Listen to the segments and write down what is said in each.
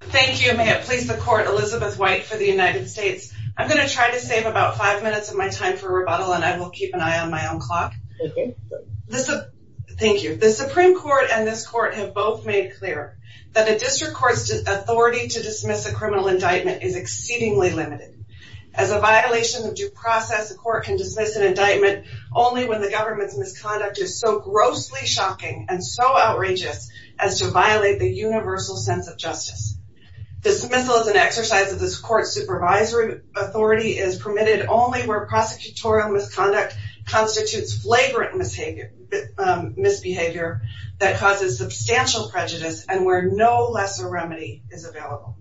Thank you. May it please the court Elizabeth White for the United States. I'm going to try to save about five minutes of my time for rebuttal and I will keep an eye on my own clock. Thank you. The Supreme Court and this court have both made clear that a district court's authority to dismiss a criminal indictment is exceedingly limited. As a violation of due process a court can dismiss an indictment only when the government's misconduct is so universal sense of justice. Dismissal is an exercise of this court's supervisory authority is permitted only where prosecutorial misconduct constitutes flagrant misbehavior that causes substantial prejudice and where no lesser remedy is available.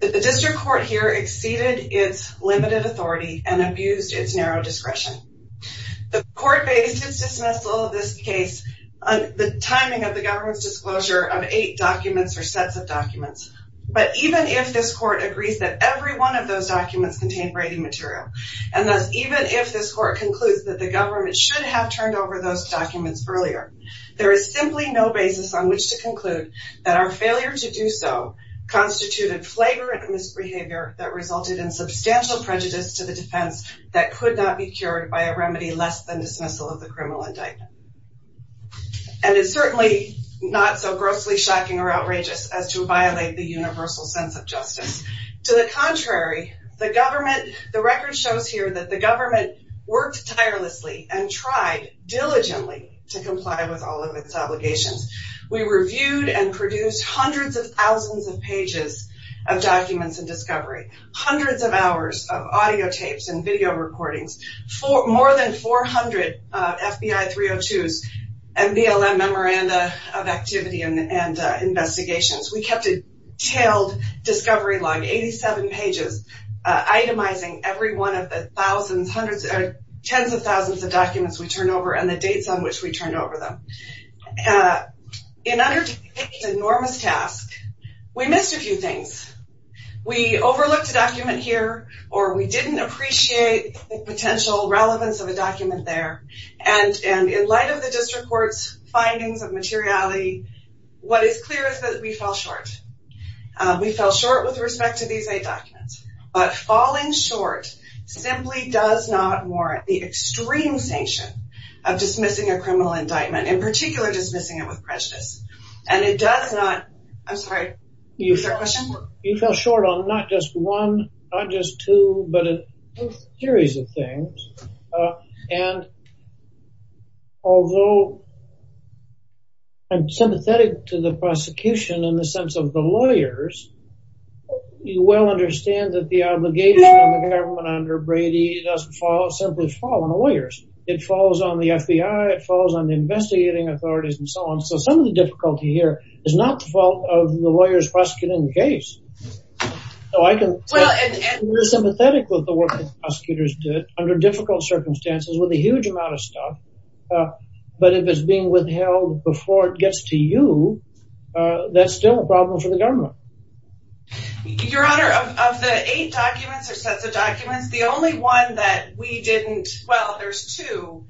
The district court here exceeded its limited authority and abused its narrow discretion. The court based its dismissal of this case on the timing of the government's disclosure of eight documents or sets of documents but even if this court agrees that every one of those documents contain braiding material and thus even if this court concludes that the government should have turned over those documents earlier there is simply no basis on which to conclude that our failure to do so constituted flagrant misbehavior that resulted in substantial prejudice to the defense that could not be cured by a remedy less than dismissal of the and it's certainly not so grossly shocking or outrageous as to violate the universal sense of justice. To the contrary the government the record shows here that the government worked tirelessly and tried diligently to comply with all of its obligations. We reviewed and produced hundreds of thousands of pages of documents and discovery, hundreds of hours of audio tapes and video recordings for more than 400 FBI 302s and BLM memoranda of activity and investigations. We kept a detailed discovery log 87 pages itemizing every one of the thousands hundreds or tens of thousands of documents we turn over and the dates on which we turned over them. In under enormous task we missed a few things. We overlooked a document here or we didn't appreciate the potential relevance of a document there and and in light of the district courts findings of materiality what is clear is that we fall short. We fell short with respect to these eight documents but falling short simply does not warrant the extreme sanction of dismissing a criminal indictment in particular dismissing it and it does not I'm sorry you fell short on not just one not just two but a series of things and although I'm sympathetic to the prosecution in the sense of the lawyers you well understand that the obligation of the government under Brady doesn't fall simply fall on the lawyers it falls on the FBI it falls on investigating authorities and so on so some of the difficulty here is not the fault of the lawyers prosecuting the case so I can well and we're sympathetic with the work prosecutors did under difficult circumstances with a huge amount of stuff but if it's being withheld before it gets to you that's still a problem for the government. Your honor of the eight documents or sets of documents the only one that we didn't well there's two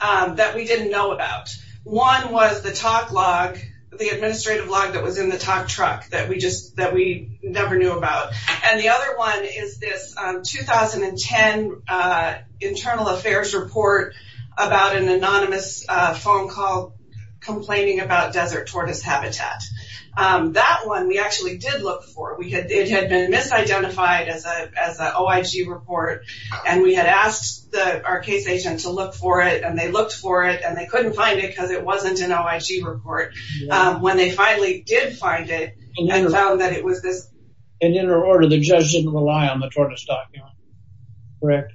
that we didn't know about one was the talk log the administrative log that was in the talk truck that we just that we never knew about and the other one is this 2010 internal affairs report about an anonymous phone call complaining about desert tortoise habitat that one we actually did look for we had it had been misidentified as a as a OIG report and we had asked the our case agent to look for it and they looked for it and they couldn't find it because it wasn't an OIG report when they finally did find it and found that it was this and in her order the judge didn't rely on the tortoise document correct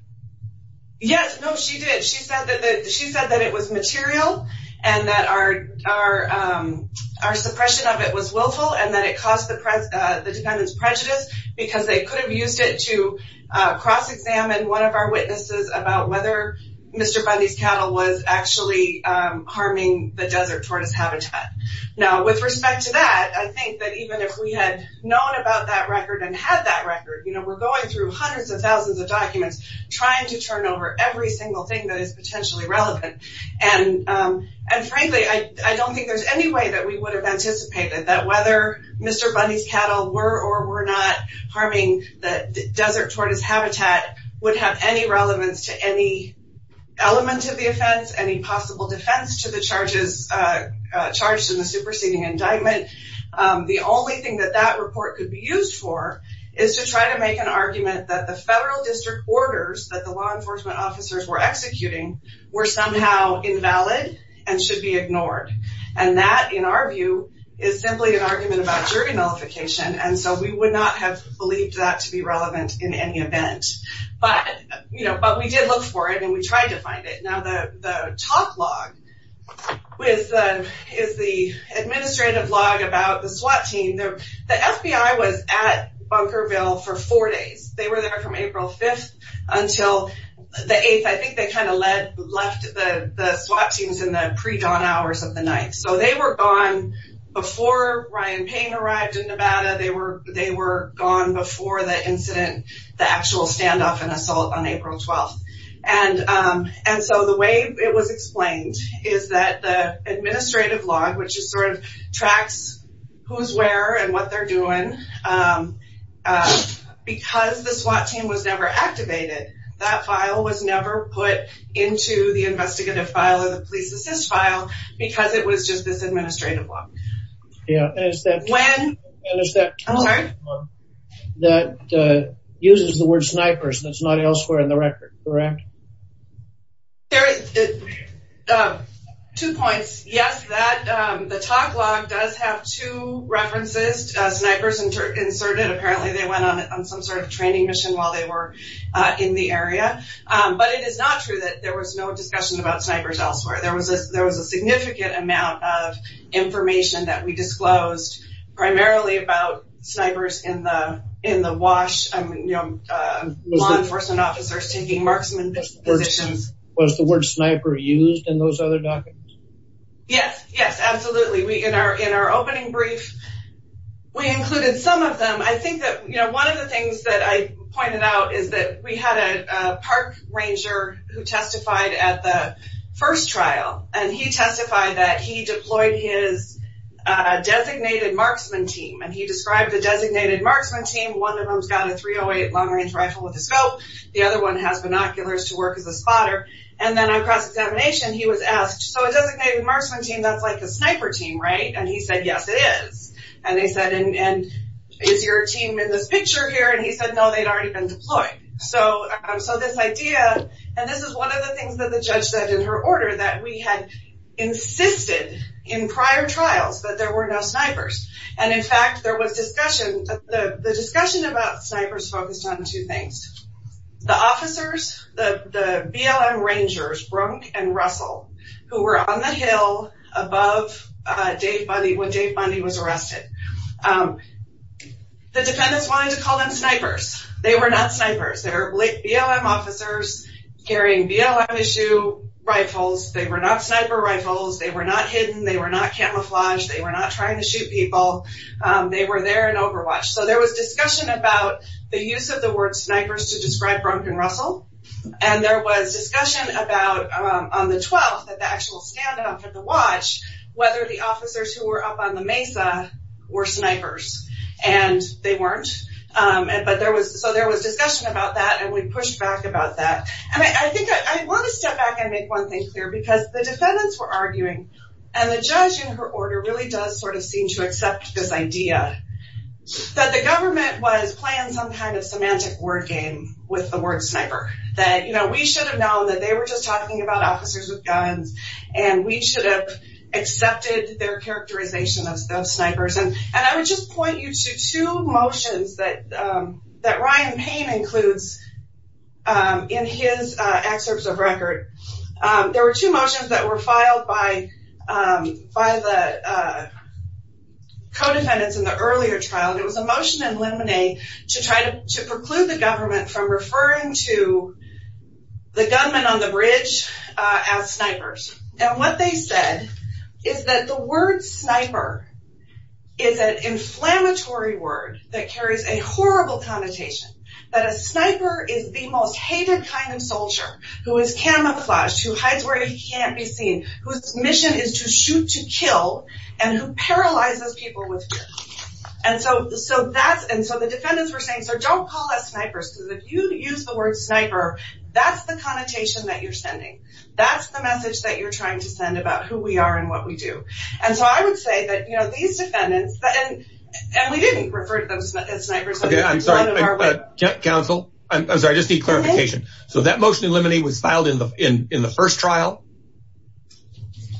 yes no she did she said that she said that it was material and that our our suppression of it was willful and that it caused the press the defendant's prejudice because they could have used it to cross-examine one of our witnesses about whether Mr. Bundy's cattle was actually harming the desert tortoise habitat now with respect to that I think that even if we had known about that record and had that record you know we're going through hundreds of thousands of documents trying to turn over every single thing that is potentially relevant and and frankly I don't think there's any way that we would have anticipated that whether Mr. Bundy's cattle were or were not harming the desert tortoise habitat would have any relevance to any element of the offense any possible defense to the charges charged in the superseding indictment the only thing that that report could be used for is to try to make an argument that the federal district orders that the law enforcement officers were executing were somehow invalid and should be ignored and that in our view is simply an argument about jury nullification and so we would not have believed that to be relevant in any event but you know but we did look for it and we tried to find it now the top log with is the administrative log about the SWAT team there the FBI was at Bunkerville for four days they were there from April 5th until the 8th I think they kind of led left the SWAT teams in the pre-dawn hours of the night so they were gone before Ryan Payne arrived in Nevada they were they were before the incident the actual standoff and assault on April 12th and and so the way it was explained is that the administrative log which is sort of tracks who's where and what they're doing because the SWAT team was never activated that file was never put into the investigative file of the police file because it was just this administrative one yeah that uses the word snipers that's not elsewhere in the record correct there is two points yes that the top log does have two references snipers and inserted apparently they went on some sort of training mission while they were in the area but it is not true that there was no discussion about snipers elsewhere there was a there was a significant amount of information that we disclosed primarily about snipers in the in the wash law enforcement officers taking marksman positions was the word sniper used in those other documents yes yes absolutely we in our in our opening brief we included some of them I think that you know one of the things that I pointed out is that we had a park ranger who testified at the first trial and he testified that he deployed his designated marksman team and he described the designated marksman team one of them's got a 308 long-range rifle with the scope the other one has binoculars to work as a spotter and then on cross-examination he was asked so a designated marksman team that's like a sniper team right and he said yes it is and they said and is your team in this picture here and he said no they'd been deployed so so this idea and this is one of the things that the judge said in her order that we had insisted in prior trials that there were no snipers and in fact there was discussion the discussion about snipers focused on two things the officers the BLM Rangers Brunk and Russell who were on the hill above Dave Bundy when Dave Bundy was arrested the defendants wanted to call them snipers they were not snipers they're BLM officers carrying BLM issue rifles they were not sniper rifles they were not hidden they were not camouflaged they were not trying to shoot people they were there in overwatch so there was discussion about the use of the word snipers to describe Brunk and Russell and there was discussion about on the 12th at the actual standoff at the watch whether the officers who were up on the mesa were snipers and they weren't but there was so there was discussion about that and we pushed back about that and I think I want to step back and make one thing clear because the defendants were arguing and the judge in her order really does sort of seem to accept this idea that the government was playing some kind of semantic word game with the word sniper that you know we should have known that they were just talking about officers with guns and we should have their characterization of those snipers and and I would just point you to two motions that that Ryan Payne includes in his excerpts of record there were two motions that were filed by by the co-defendants in the earlier trial it was a motion in Lemonade to try to preclude the government from referring to the gunman on the bridge as snipers and what they said is that the word sniper is an inflammatory word that carries a horrible connotation that a sniper is the most hated kind of soldier who is camouflaged who hides where he can't be seen whose mission is to shoot to kill and who paralyzes people with fear and so so that's and so the defendants were saying so don't call us snipers because if you use the word sniper that's the connotation that you're sending that's the message that you're trying to send about who we are and what we do and so I would say that you know these defendants and and we didn't refer to those snipers okay I'm sorry counsel I'm sorry I just need clarification so that motion in Lemonade was filed in the in in the first trial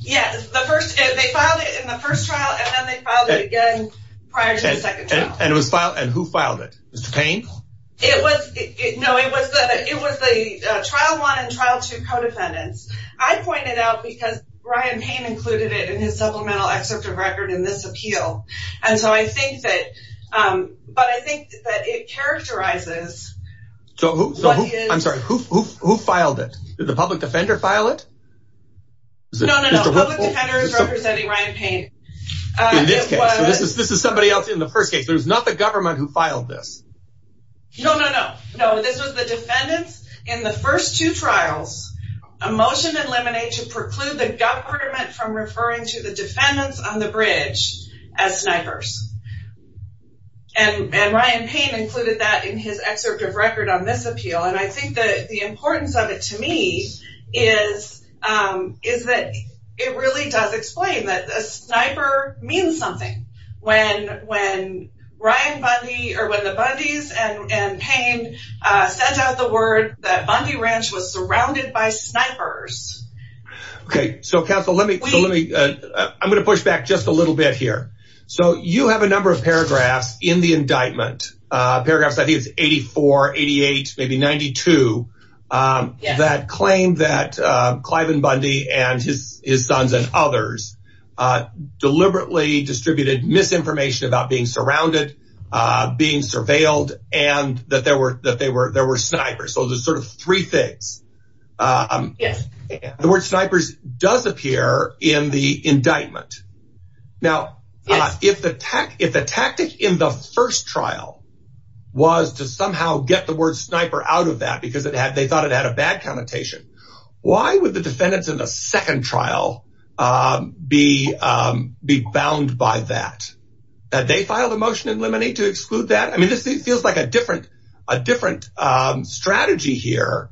yes the first they filed it in the first trial and then they filed it again prior to the second trial and it was filed and who filed it Mr. Payne it was it no it was that it was the trial one and trial two co-defendants I pointed out because Ryan Payne included it in his supplemental excerpt of record in this appeal and so I think that but I think that it characterizes so I'm sorry who filed it did the public defender file it? No, no, no. The public defender is representing Ryan Payne. This is somebody else in the first case there's not the government who filed this no no no no this was the defendants in the first two trials a motion in Lemonade to preclude the government from referring to the defendants on the bridge as snipers and and Ryan Payne included that in his excerpt of record on this appeal and I think that the importance of it to me is is that it means something when when Ryan Bundy or when the Bundys and Payne sent out the word that Bundy Ranch was surrounded by snipers okay so counsel let me let me I'm gonna push back just a little bit here so you have a number of paragraphs in the indictment paragraphs I think it's 84 88 maybe 92 that claim that deliberately distributed misinformation about being surrounded being surveilled and that there were that they were there were snipers so there's sort of three things the word snipers does appear in the indictment now if the tech if the tactic in the first trial was to somehow get the word sniper out of that because it had they thought it had a bad connotation why would the defendants in a second trial be be bound by that they filed a motion in Lemonade to exclude that I mean this thing feels like a different a different strategy here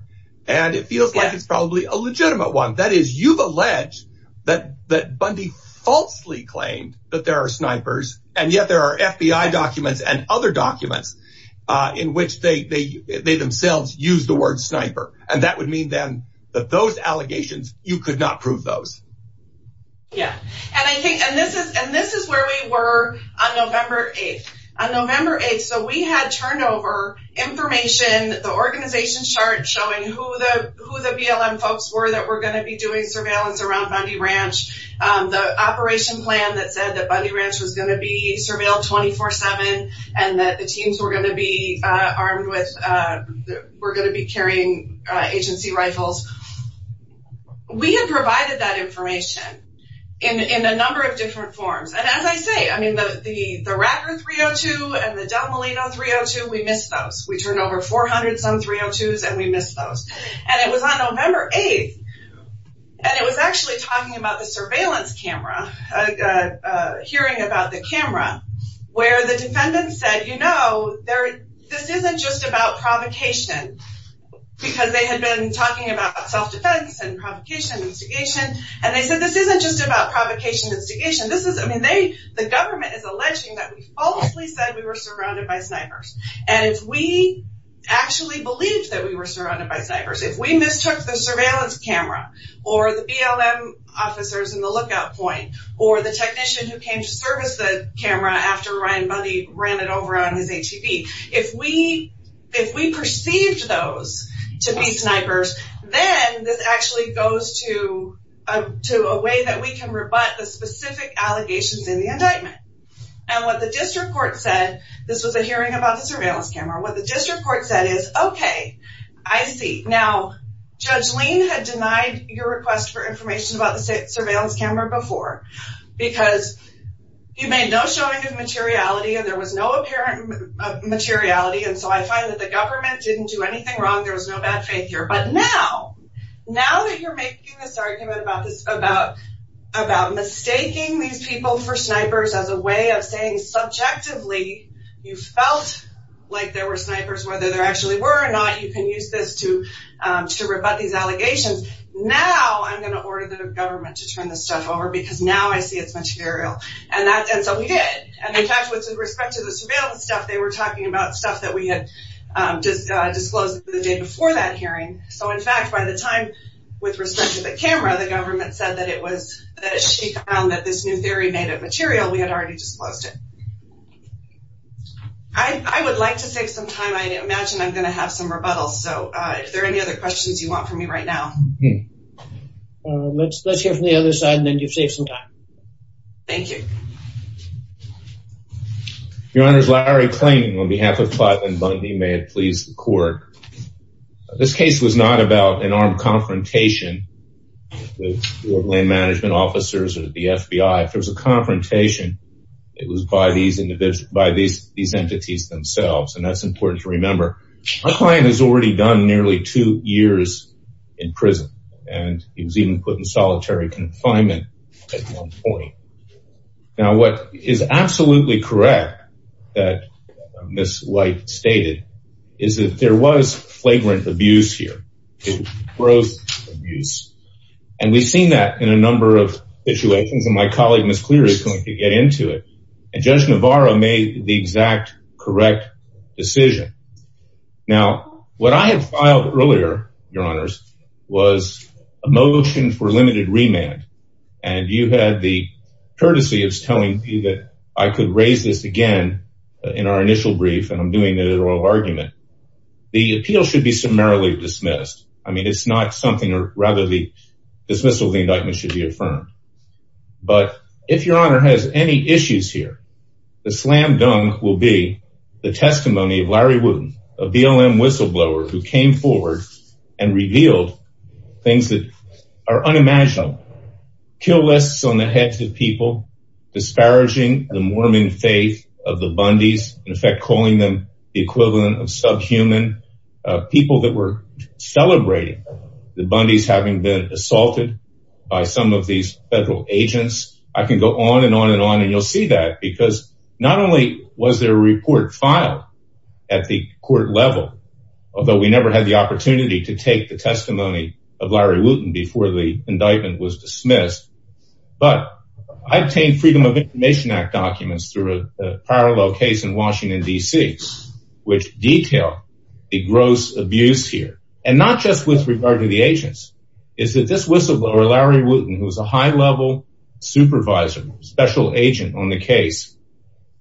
and it feels like it's probably a legitimate one that is you've alleged that that Bundy falsely claimed that there are snipers and yet there are FBI documents and other documents in which they they themselves use the word sniper and that would mean then that those allegations you could not prove those yeah and I think and this is and this is where we were on November 8th on November 8th so we had turnover information the organization chart showing who the who the BLM folks were that we're going to be doing surveillance around Bundy Ranch the operation plan that said that Bundy Ranch was going to be surveilled 24-7 and that the teams were going to be armed with we're going to be carrying agency rifles we had provided that information in in a number of different forms and as I say I mean the the the Racker 302 and the Del Molino 302 we missed those we turned over 400 some 302s and we missed those and it was on November 8th and it was actually talking about the surveillance camera hearing about the camera where the defendants said you know there this isn't just about provocation because they had been talking about self-defense and provocation instigation and they said this isn't just about provocation instigation this is I mean they the government is alleging that we falsely said we were surrounded by snipers and if we actually believed that we were surrounded by snipers if we mistook the surveillance camera or the BLM officers in the lookout point or the technician who came to service the camera after Ryan Bundy ran it over on his ATV if we if we perceived those to be snipers then this actually goes to to a way that we can rebut the specific allegations in the indictment and what the district court said this was a hearing about the surveillance camera what the district court said is okay I see now judge lean had denied your request for information about the surveillance camera before because you made no showing of materiality and there was no apparent materiality and so I find that the government didn't do anything wrong there was no bad faith here but now now that you're making this argument about this about about mistaking these people for snipers as a way of saying subjectively you felt like there were snipers whether there actually were or you can use this to to rebut these allegations now I'm going to order the government to turn this stuff over because now I see it's material and that and so we did and in fact with respect to the surveillance stuff they were talking about stuff that we had just disclosed the day before that hearing so in fact by the time with respect to the camera the government said that it was that she found that this new theory made of material we had already disclosed it I would like to save some time I imagine I'm gonna have some rebuttals so if there are any other questions you want from me right now let's let's hear from the other side and then you've saved some time thank you your honor's Larry claiming on behalf of five and Bundy may it please the court this case was not about an armed confrontation with land management officers or the FBI if there was a confrontation it was by these individuals by these these entities themselves and that's important to remember my client has already done nearly two years in prison and he was even put in solitary confinement now what is absolutely correct that miss white stated is that there was flagrant abuse here it was abuse and we've seen that in a number of situations and my colleague miss clear is going to get into it and judge Navarro made the exact correct decision now what I have filed earlier your honors was a motion for limited remand and you had the courtesy of telling you that I could raise this again in our initial brief and I'm doing the oral argument the appeal should be summarily dismissed I mean it's not something or rather the dismissal the indictment should be affirmed but if your honor has any issues here the slam-dunk will be the testimony of Larry Wooten a BLM whistleblower who came forward and revealed things that are unimaginable kill lists on the heads of people disparaging the Mormon faith of the Bundy's in effect calling them the equivalent of subhuman people that were celebrating the Bundy's having been assaulted by some of these federal agents I can go on and on and on and you'll see that because not only was there a report filed at the court level although we never had the opportunity to take the testimony of Larry Wooten before the indictment was dismissed but I obtained Freedom of Information Act documents through a parallel case in just with regard to the agents is that this whistleblower Larry Wooten who was a high-level supervisor special agent on the case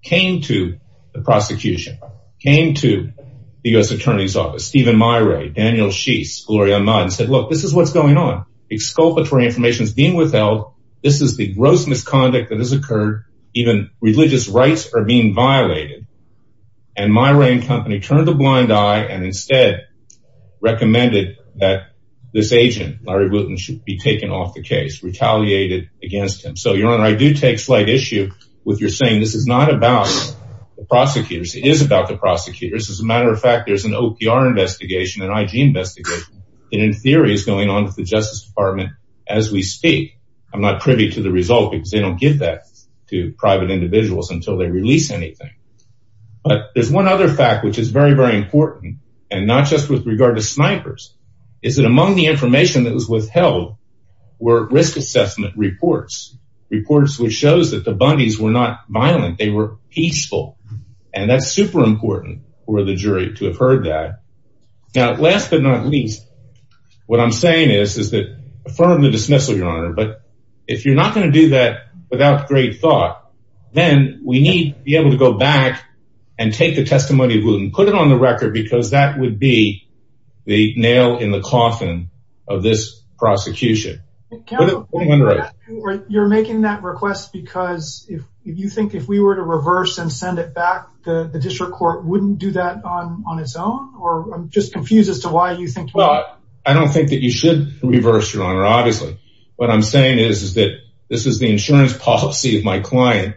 came to the prosecution came to the US Attorney's Office Stephen Myra Daniel she's Gloria and said look this is what's going on exculpatory information is being withheld this is the gross misconduct that has occurred even religious rights are being violated and Myra and company turned a blind eye and instead recommended that this agent Larry Wooten should be taken off the case retaliated against him so your honor I do take slight issue with your saying this is not about the prosecutors it is about the prosecutors as a matter of fact there's an OPR investigation and IG investigation and in theory is going on with the Justice Department as we speak I'm not privy to the result because they don't give that to private individuals until they release anything but there's one other fact which is very very important and not just with regard to snipers is it among the information that was withheld were risk assessment reports reports which shows that the bunnies were not violent they were peaceful and that's super important for the jury to have heard that now last but not least what I'm saying is is that affirm the dismissal your honor but if you're not going to do that without great thought then we need to be able to go back and take the testimony of Wooten put it on the record because that would be the nail in the coffin of this prosecution you're making that request because if you think if we were to reverse and send it back the district court wouldn't do that on its own or I'm just confused as to why you think well I don't think that you should reverse your honor obviously what I'm saying is is that this is the insurance policy of my client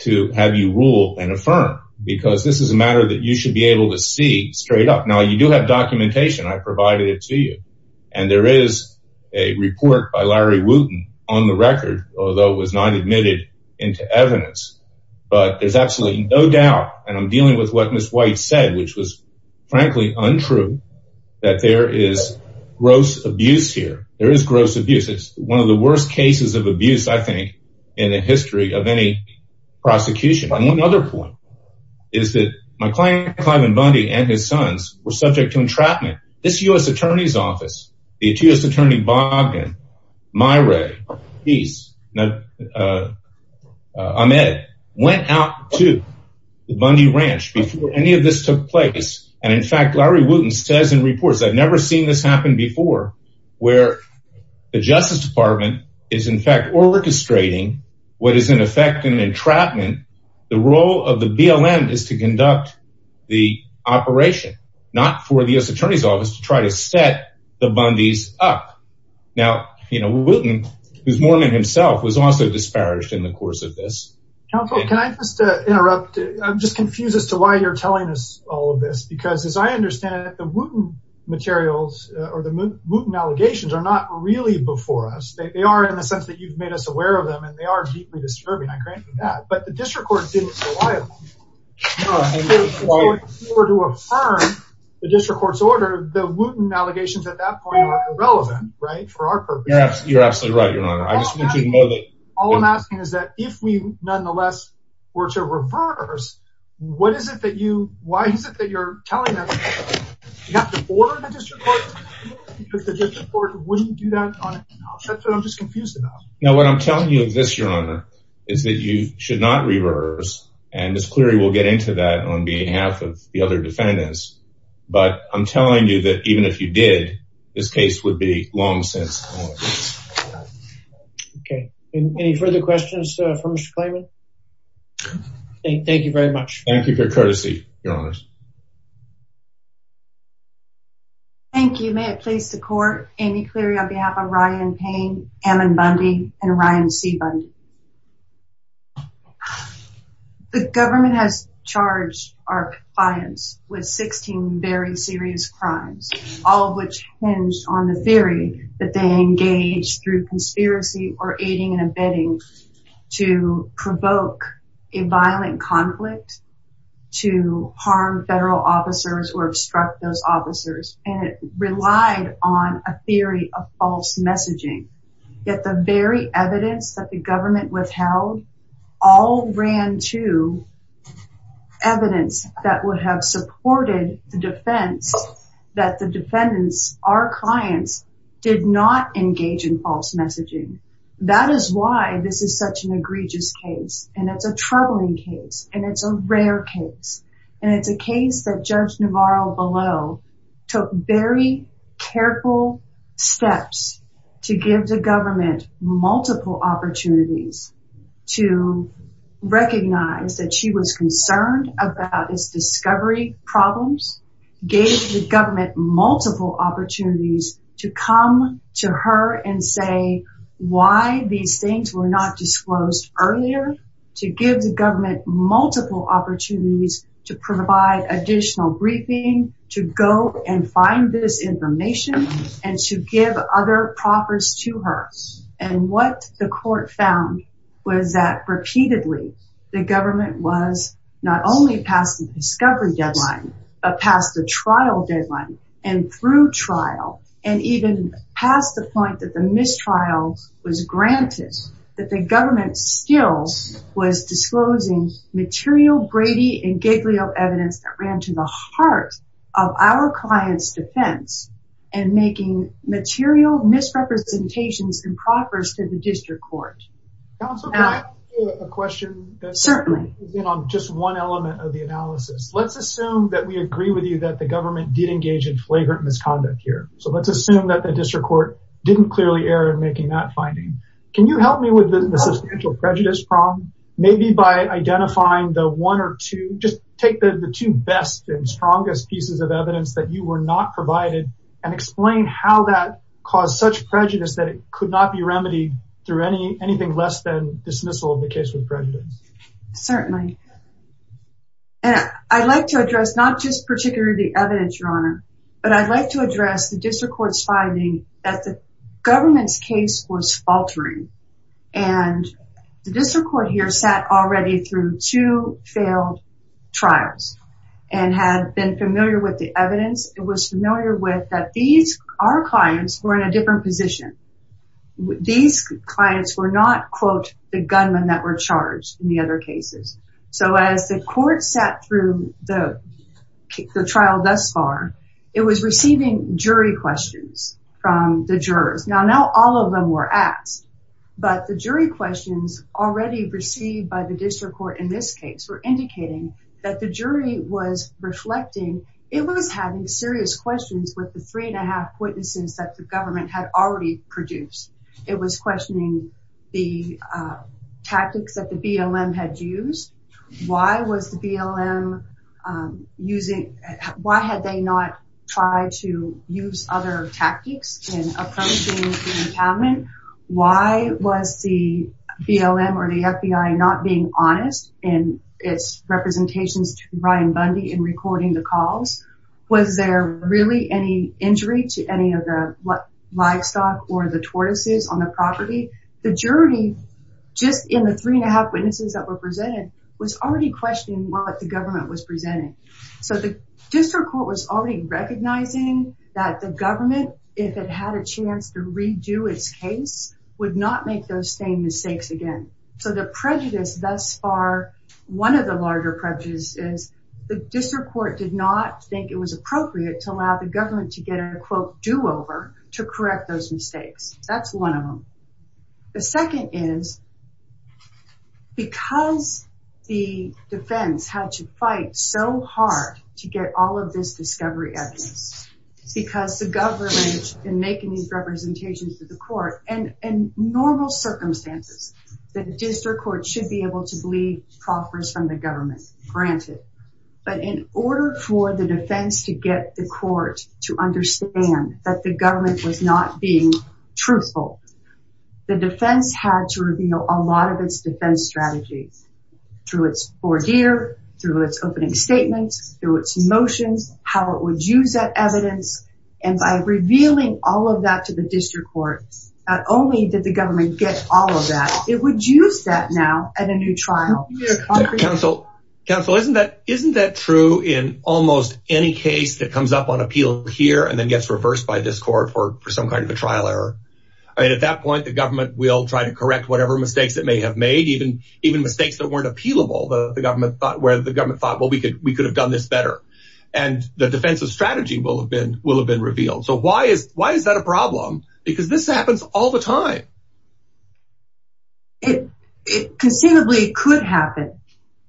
to have you rule and affirm because this is a matter that you should be able to see straight up now you do have documentation I provided it to you and there is a report by Larry Wooten on the record although it was not admitted into evidence but there's absolutely no doubt and I'm dealing with what Miss White said which was frankly untrue that there is gross abuse here there is gross abuse it's one of the worst cases of abuse I think in the history of any prosecution on one other point is that my client Cliven Bundy and his sons were subject to entrapment this US Attorney's Office the attorney Bob and Myra he's not I'm Ed went out to the Bundy ranch before any of this took place and in fact Larry Wooten says in this happened before where the Justice Department is in fact orchestrating what is in effect an entrapment the role of the BLM is to conduct the operation not for the US Attorney's Office to try to set the Bundy's up now you know Wooten who's Mormon himself was also disparaged in the course of this I'm just confused as to why you're telling us all of this because as I understand it the Wooten materials or the Wooten allegations are not really before us they are in the sense that you've made us aware of them and they are deeply disturbing I grant you that but the district court didn't rely on the district court's order the Wooten allegations at that point were irrelevant right for our purpose you're absolutely right your honor I just want you to know that all I'm asking is that if we nonetheless were to reverse what is it that you why is it that you're telling us you have to order the district court because the district court wouldn't do that on its own that's what I'm just confused about now what I'm telling you of this your honor is that you should not reverse and this query will get into that on behalf of the other defendants but I'm telling you that even if you did this case would be long since okay any further questions from Mr. Klayman thank you very much thank you for courtesy your honors thank you may it please the court Amy Cleary on behalf of Ryan Payne, Ammon Bundy and Ryan C Bundy the government has charged our clients with 16 very serious crimes all of which hinged on the theory that they engaged through to provoke a violent conflict to harm federal officers or obstruct those officers and it relied on a theory of false messaging yet the very evidence that the government withheld all ran to evidence that would have supported the defense that the defendants our clients did not engage in false messaging that is why this is such an egregious case and it's a troubling case and it's a rare case and it's a case that Judge Navarro below took very careful steps to give the government multiple opportunities to recognize that she was concerned about this discovery problems gave the government multiple opportunities to come to her and say why these things were not disclosed earlier to give the government multiple opportunities to provide additional briefing to go and find this information and to give other proffers to her and what the court found was that repeatedly the government was not only past the discovery deadline but past the trial deadline and through trial and even past the point that the mistrials was granted that the government stills was disclosing material Brady and Giglio evidence that ran to the heart of our clients defense and making material misrepresentations and proffers to the let's assume that we agree with you that the government did engage in flagrant misconduct here so let's assume that the district court didn't clearly error in making that finding can you help me with the substantial prejudice problem maybe by identifying the one or two just take the two best and strongest pieces of evidence that you were not provided and explain how that caused such prejudice that it could not be remedied through any anything less than address not just particularly evidence runner but I'd like to address the district court's finding that the government's case was faltering and the district court here sat already through two failed trials and had been familiar with the evidence it was familiar with that these are clients who are in a different position with these clients were not quote the gunman that were the other cases so as the court sat through the trial thus far it was receiving jury questions from the jurors now now all of them were asked but the jury questions already received by the district court in this case were indicating that the jury was reflecting it was having serious questions with the three and a half witnesses that the government had already produced it was questioning the tactics that the BLM had used why was the BLM using why had they not try to use other tactics in approaching the impoundment why was the BLM or the FBI not being honest in its representations to Ryan Bundy in recording the calls was there really any injury to any of the livestock or the property the jury just in the three and a half witnesses that were presented was already questioning what the government was presenting so the district court was already recognizing that the government if it had a chance to redo its case would not make those same mistakes again so the prejudice thus far one of the larger prejudices the district court did not think it was appropriate to allow the government to get a quote do-over to correct those mistakes that's one of the second is because the defense had to fight so hard to get all of this discovery evidence because the government and making these representations to the court and in normal circumstances the district court should be able to believe proffers from the government granted but in order for the defense to get the court to understand that the government was not being truthful the defense had to reveal a lot of its defense strategies through its four deer through its opening statements through its motions how it would use that evidence and by revealing all of that to the district court not only did the government get all of that it would use that now at a new trial counsel counsel isn't that isn't that true in almost any case that comes up on appeal here and then gets reversed by this court for for some kind of a trial error I mean at that point the government will try to correct whatever mistakes that may have made even even mistakes that weren't appealable the government thought where the government thought well we could we could have done this better and the defensive strategy will have been will have been revealed so why is why is that a problem because this happens all the time it considerably could happen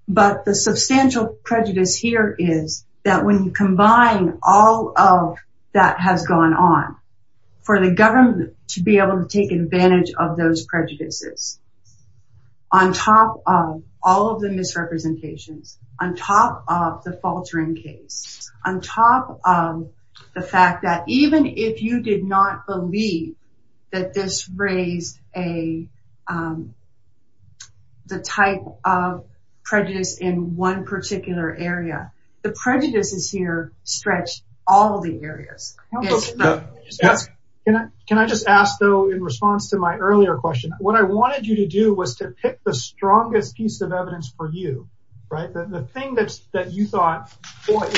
but the substantial prejudice here is that when you combine all of that has gone on for the government to be able to take advantage of those prejudices on top of all of the misrepresentations on top of the faltering case on top of the fact that even if you did not believe that this raised a the type of prejudice in one particular area the prejudice is here stretch all the areas can I just ask though in response to my earlier question what I wanted you to do was to pick the strongest piece of evidence for you right the thing that's that you thought boy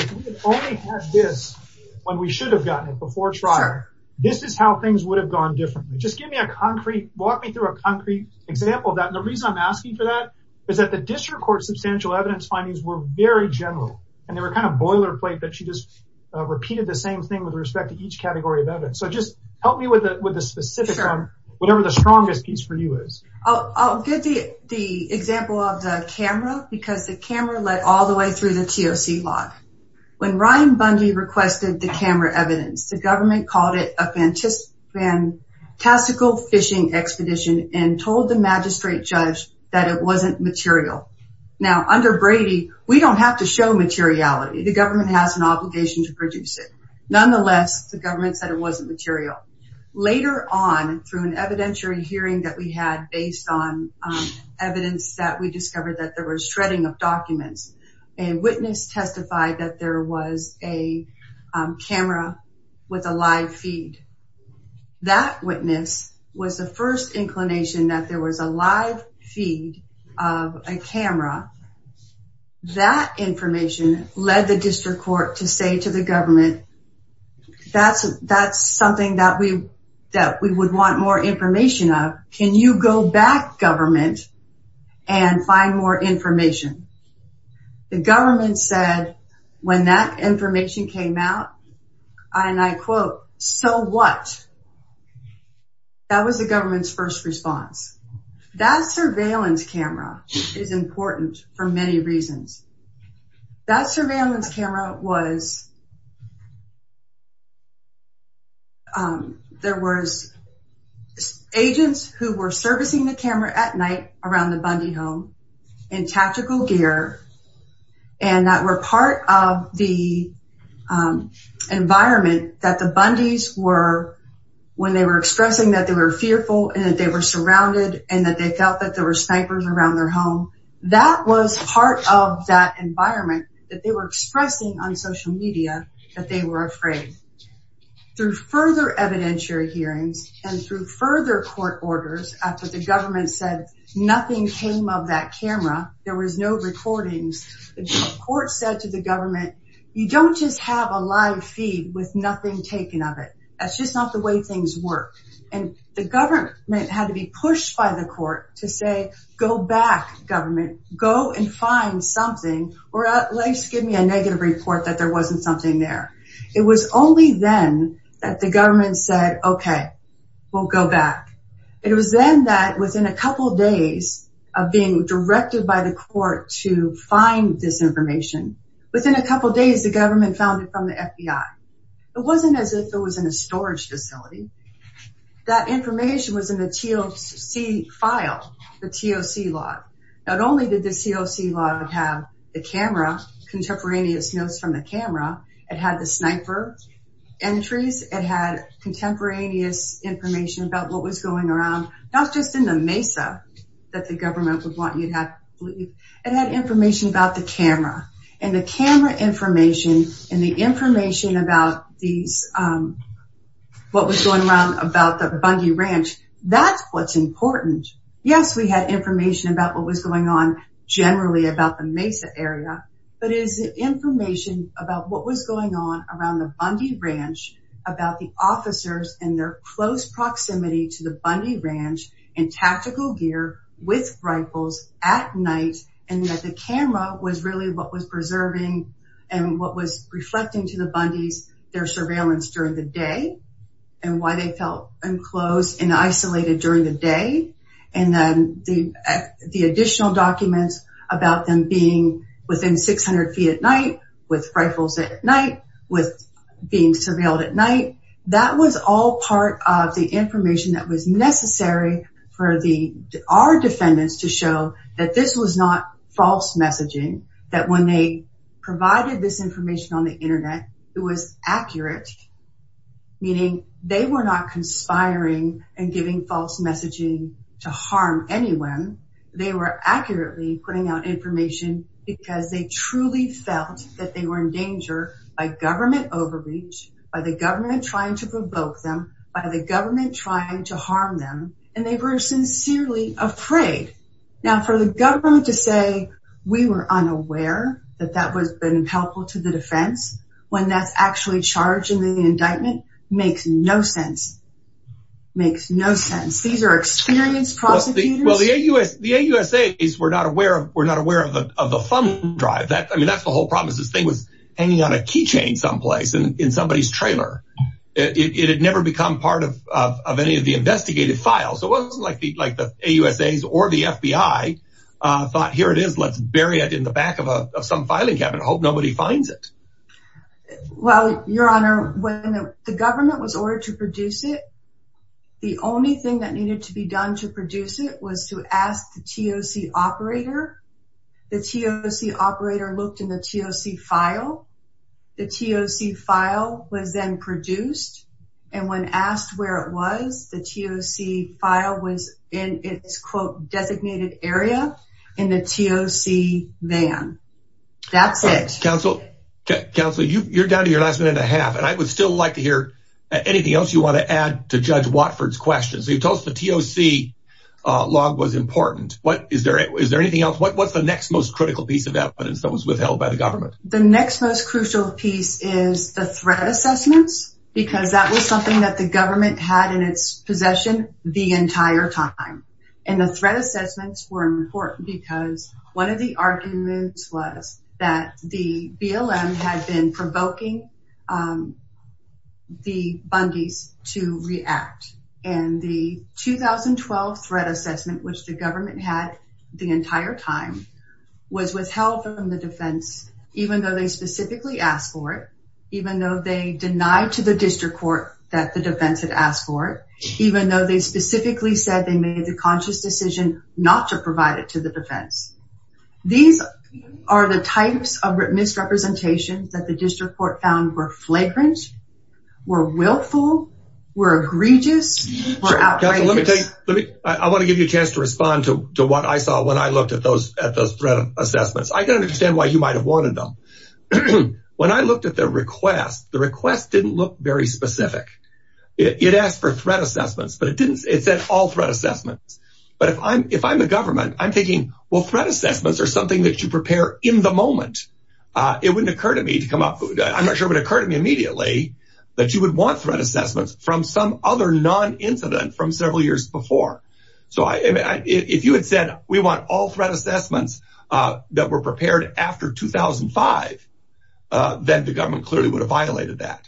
only has this when we should have gotten it before trial this is how things would have gone differently just give me a concrete walk me through a concrete example that the reason I'm asking for that is that the district court substantial evidence findings were very general and they were kind of boilerplate that she just repeated the same thing with respect to each category of evidence so just help me with it with a specific term whatever the strongest piece for you is I'll give you the example of the camera because the camera led all the way through the TOC lock when Ryan Bundy requested the camera evidence the government called it a fantastic and classical fishing expedition and told the magistrate judge that it wasn't material now under Brady we don't have to show materiality the government has an obligation to produce it nonetheless the government said it wasn't material later on through an evidentiary hearing that we had based on evidence that we discovered that there was shredding of documents a witness testified that there was a camera with a live feed that witness was the first inclination that there was a live feed of a camera that information led the district court to say to the government that's that's something that we that we would want more information of can you go back government and find more information the government said when that information came out and I quote so what that was the government's first response that surveillance camera is important for many reasons that surveillance camera was there was agents who were servicing the camera at night around the Bundy home in tactical gear and that were part of the environment that the Bundy's were when they were expressing that they were fearful and that they were surrounded and that they felt that there were snipers around their home that was part of that environment that they were expressing on social media that they were afraid through further evidentiary hearings and through further court orders after the court said to the government you don't just have a live feed with nothing taken of it that's just not the way things work and the government had to be pushed by the court to say go back government go and find something or at least give me a negative report that there wasn't something there it was only then that the government said okay we'll go back it was then that within a couple days of being directed by the court to find this information within a couple days the government found it from the FBI it wasn't as if it was in a storage facility that information was in the TOC file the TOC log not only did the TOC log have the camera contemporaneous notes from the camera it had the sniper entries it had contemporaneous information about what was going around not just in the Mesa that the government would want you to have it had information about the camera and the camera information and the information about these what was going around about the Bundy Ranch that's what's important yes we had information about what was going on generally about the Mesa area but it is the information about what was going on around the Bundy Ranch about the officers and their close proximity to the Bundy Ranch and tactical gear with rifles at night and that the camera was really what was preserving and what was reflecting to the Bundy's their surveillance during the day and why they felt enclosed and isolated during the day and then the additional documents about them being within 600 feet at night with rifles at night with being surveilled at night that was all part of the information that was necessary for the our defendants to show that this was not false messaging that when they provided this information on the Internet it was accurate meaning they were not conspiring and giving false messaging to harm anyone they were accurately putting out information because they truly felt that they were in danger by government overreach by the government trying to provoke them by the government trying to harm them and they were sincerely afraid now for the government to say we were unaware that that was been helpful to the defense when that's actually charged in the indictment makes no sense makes no sense these are experienced prosecutors well the AUSA is we're not aware of we're not aware of the of the thumb drive that I mean that's the whole problem is this thing was hanging on a keychain someplace and in somebody's trailer it had never become part of any of the investigated files it wasn't like the like the AUSA's or the FBI thought here it is let's bury it in the back of a some filing cabin hope nobody finds it well your honor when the government was ordered to produce it the only thing that needed to be done to produce it was to ask the TOC operator the TOC operator looked in the TOC file the TOC file was then produced and when asked where it was the TOC file was in its quote designated area in the TOC van that's it counsel counsel you're down to your last minute a half and I would still like to hear anything else you want to add to judge Watford's question so you told us the TOC log was important what is there is there anything else what's the next most critical piece of evidence that was withheld by the government the next most crucial piece is the threat assessments because that was something that the government had in its possession the entire time and the threat assessments were important because one of the arguments was that the BLM had been provoking the Bundy's to react and the 2012 threat assessment which the government had the entire time was withheld from the defense even though they specifically asked for it even though they denied to the district court that the defense had asked for it even though they specifically said they made the conscious decision not to provide it to the defense these are the types of misrepresentations that the district court found were flagrant were to respond to what I saw when I looked at those at those threat assessments I don't understand why you might have wanted them when I looked at their request the request didn't look very specific it asked for threat assessments but it didn't it said all threat assessments but if I'm if I'm the government I'm thinking well threat assessments are something that you prepare in the moment it wouldn't occur to me to come up I'm not sure what occurred to me immediately that you would want threat assessments from some non-incident from several years before so I if you had said we want all threat assessments that were prepared after 2005 then the government clearly would have violated that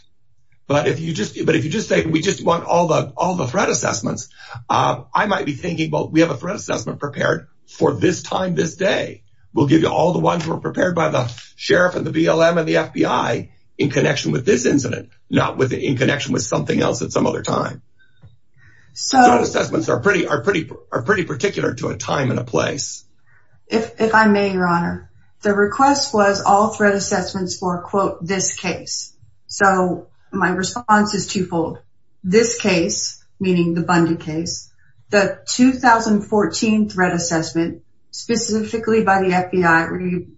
but if you just but if you just say we just want all the all the threat assessments I might be thinking well we have a threat assessment prepared for this time this day we'll give you all the ones were prepared by the sheriff and the BLM and the FBI in connection with this incident not within connection with something else at some other time so assessments are pretty are pretty are pretty particular to a time in a place if I may your honor the request was all threat assessments for quote this case so my response is twofold this case meaning the Bundy case the 2014 threat assessment specifically by the FBI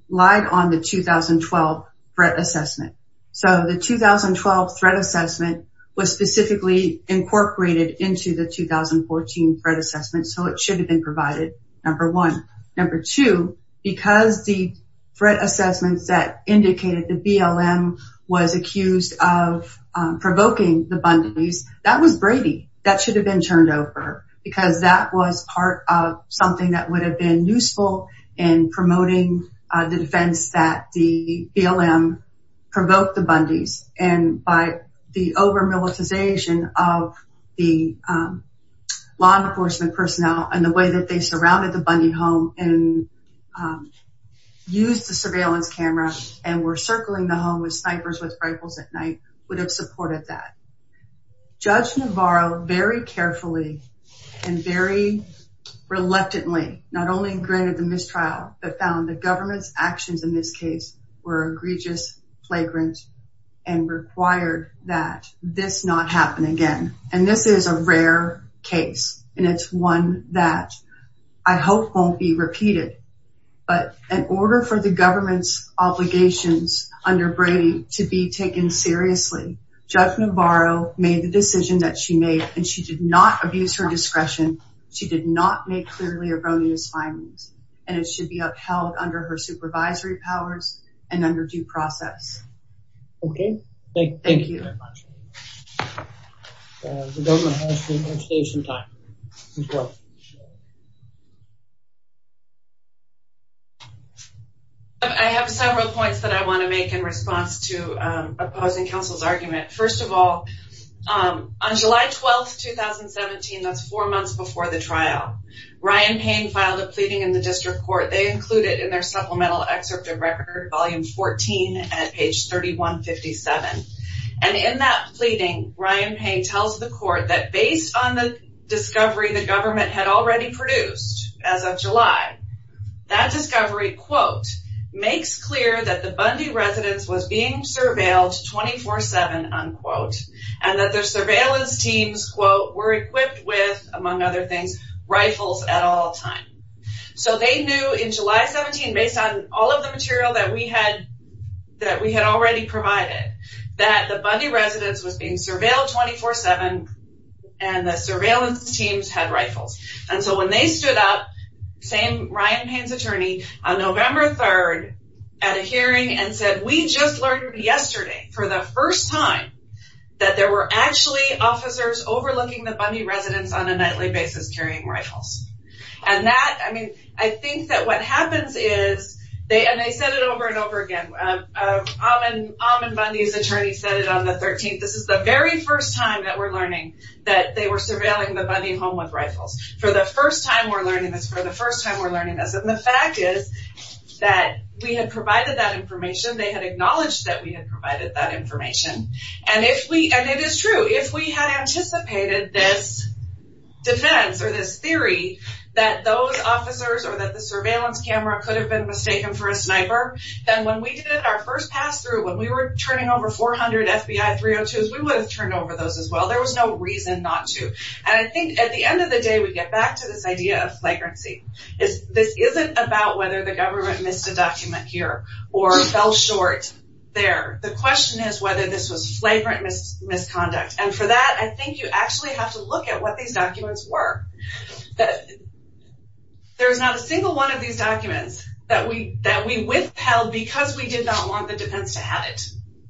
relied on the 2012 threat assessment so the 2012 threat assessment was specifically incorporated into the 2014 threat assessment so it should have been provided number one number two because the threat assessments that indicated the BLM was accused of provoking the Bundy's that was Brady that should have been turned over because that was part of something that would have been useful in promoting the defense that the BLM provoked the Bundy's and by the over militarization of the law enforcement personnel and the way that they surrounded the Bundy home and used the surveillance cameras and were circling the home with snipers with rifles at night would have supported that judge Navarro very carefully and very reluctantly not only granted the mistrial but found the government's in this case were egregious flagrant and required that this not happen again and this is a rare case and it's one that I hope won't be repeated but in order for the government's obligations under Brady to be taken seriously judge Navarro made the decision that she made and she did not abuse her discretion she did not make clearly erroneous findings and it should be upheld under her supervisory powers and under due process. Okay, thank you very much. The government has to save some time. I have several points that I want to make in response to opposing counsel's argument first of all on July 12th 2017 that's four months before the trial Ryan Payne filed a pleading in the district court they included in their supplemental excerpt of record volume 14 at page 3157 and in that pleading Ryan Payne tells the court that based on the discovery the government had already produced as of July that discovery quote makes clear that the Bundy residence was being surveilled 24-7 unquote and that their surveillance teams quote were equipped with among other things rifles at all time so they knew in July 17 based on all of the material that we had that we had already provided that the Bundy residence was being surveilled 24-7 and the surveillance teams had rifles and so when they stood up same Ryan Payne's attorney on November 3rd at a hearing and said we just learned yesterday for the first time that there were actually officers overlooking the basis carrying rifles and that I mean I think that what happens is they and they said it over and over again I'm an almond Bundy's attorney said it on the 13th this is the very first time that we're learning that they were surveilling the Bundy home with rifles for the first time we're learning this for the first time we're learning this and the fact is that we had provided that information they had acknowledged that we had provided that information and if we and it is true if we had anticipated this defense or this theory that those officers or that the surveillance camera could have been mistaken for a sniper then when we did it our first pass through when we were turning over 400 FBI 302s we would have turned over those as well there was no reason not to and I think at the end of the day we get back to this idea of flagrancy is this isn't about whether the government missed a document here or fell short there the question is whether this was flagrant misconduct and for that I think you actually have to look at what these documents were that there's not a single one of these documents that we that we withheld because we did not want the defense to have it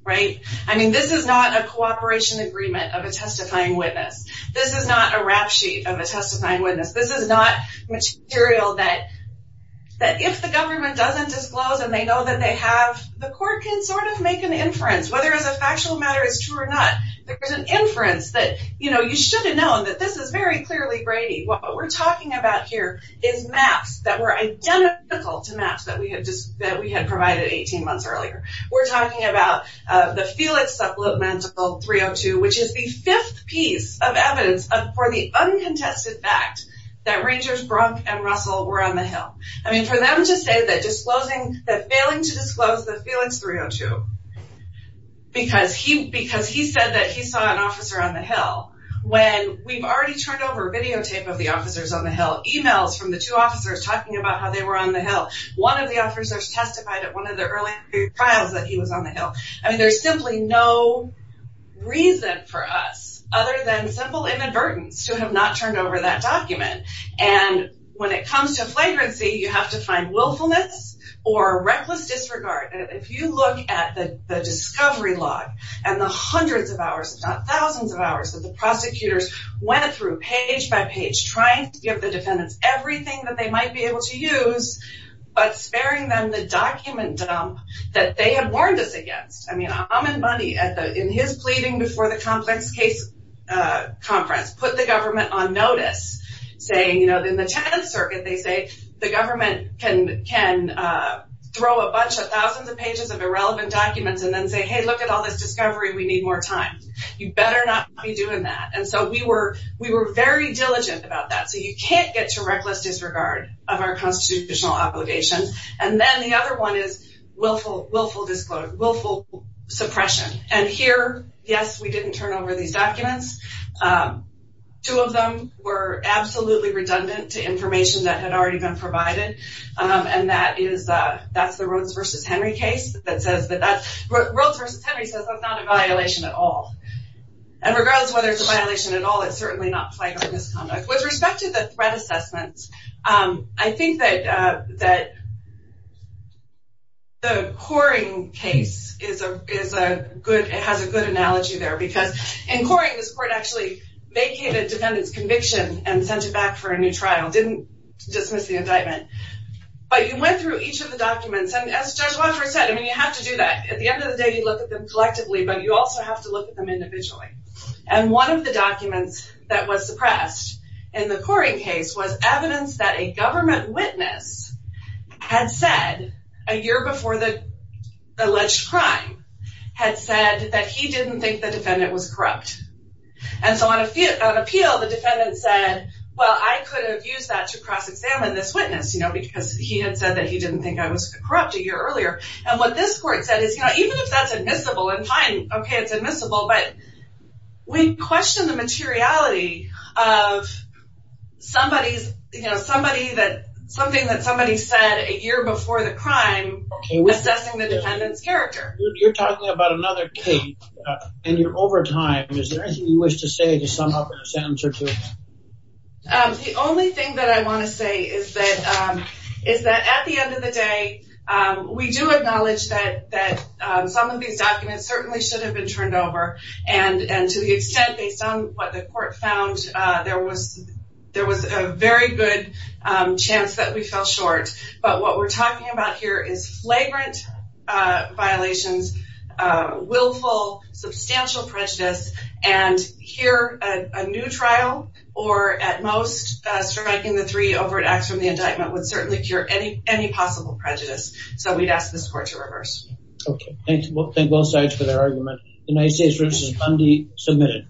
right I mean this is not a cooperation agreement of a testifying witness this is not a rap sheet of a testifying witness this is not material that that if the government doesn't disclose and they know that they the court can sort of make an inference whether as a factual matter is true or not there's an inference that you know you should have known that this is very clearly Brady what we're talking about here is maps that were identical to maps that we had just that we had provided 18 months earlier we're talking about the Felix supplemental 302 which is the fifth piece of evidence for the uncontested fact that Rangers Bronk and Russell were on the hill I mean for them to say that disclosing that failing to disclose the Felix 302 because he because he said that he saw an officer on the hill when we've already turned over videotape of the officers on the hill emails from the two officers talking about how they were on the hill one of the officers testified at one of the early trials that he was on the hill I mean there's simply no reason for us other than simple inadvertence to have not turned over that document and when it comes to flagrancy you have to find willfulness or reckless disregard if you look at the discovery log and the hundreds of hours thousands of hours that the prosecutors went through page by page trying to give the defendants everything that they might be able to use but sparing them the document that they have warned us against I mean I'm in money at the in his pleading before the complex case conference put the government on notice saying you know in the 10th Circuit they say the government can can throw a bunch of thousands of pages of irrelevant documents and then say hey look at all this discovery we need more time you better not be doing that and so we were we were very diligent about that so you can't get to reckless disregard of our constitutional obligations and then the other one is willful willful disclose willful suppression and here yes we didn't turn over these documents two of them were absolutely redundant to information that had already been provided and that is that that's the Rhodes versus Henry case that says that that's not a violation at all and regardless whether it's a violation at all it's certainly not flagrant misconduct with respect to the threat assessments I think that that the coring case is a good it has a good analogy there because in coring this court actually vacated defendants conviction and sent it back for a new trial didn't dismiss the indictment but you went through each of the documents and as Judge Walker said I mean you have to do that at the end of the day you look at them collectively but you also have to look at them individually and one of the documents that was suppressed in the coring case was evidence that a government witness had said a year before the alleged crime had said that he didn't think the defendant was corrupt and so on a few appeal the defendant said well I could have used that to cross-examine this witness you know because he had said that he didn't think I was corrupt a year earlier and what this court said is you know even if that's admissible and fine okay it's admissible but we question the materiality of somebody's you know somebody that something that somebody said a year before the crime was assessing the defendant's character you're talking about another case and you're over time is there anything you wish to say to sum up in a sentence or two the only thing that I want to say is that is that at the end of the day we do acknowledge that that some of these documents certainly should have been turned over and and to the extent based on what the court found there was there was a very good chance that we fell short but what we're talking about here is flagrant violations willful substantial prejudice and here a new trial or at most striking the three overt acts from the indictment would certainly cure any any possible prejudice so we'd ask this court to reverse okay well thank both sides for their argument the United States vs. Bundy submitted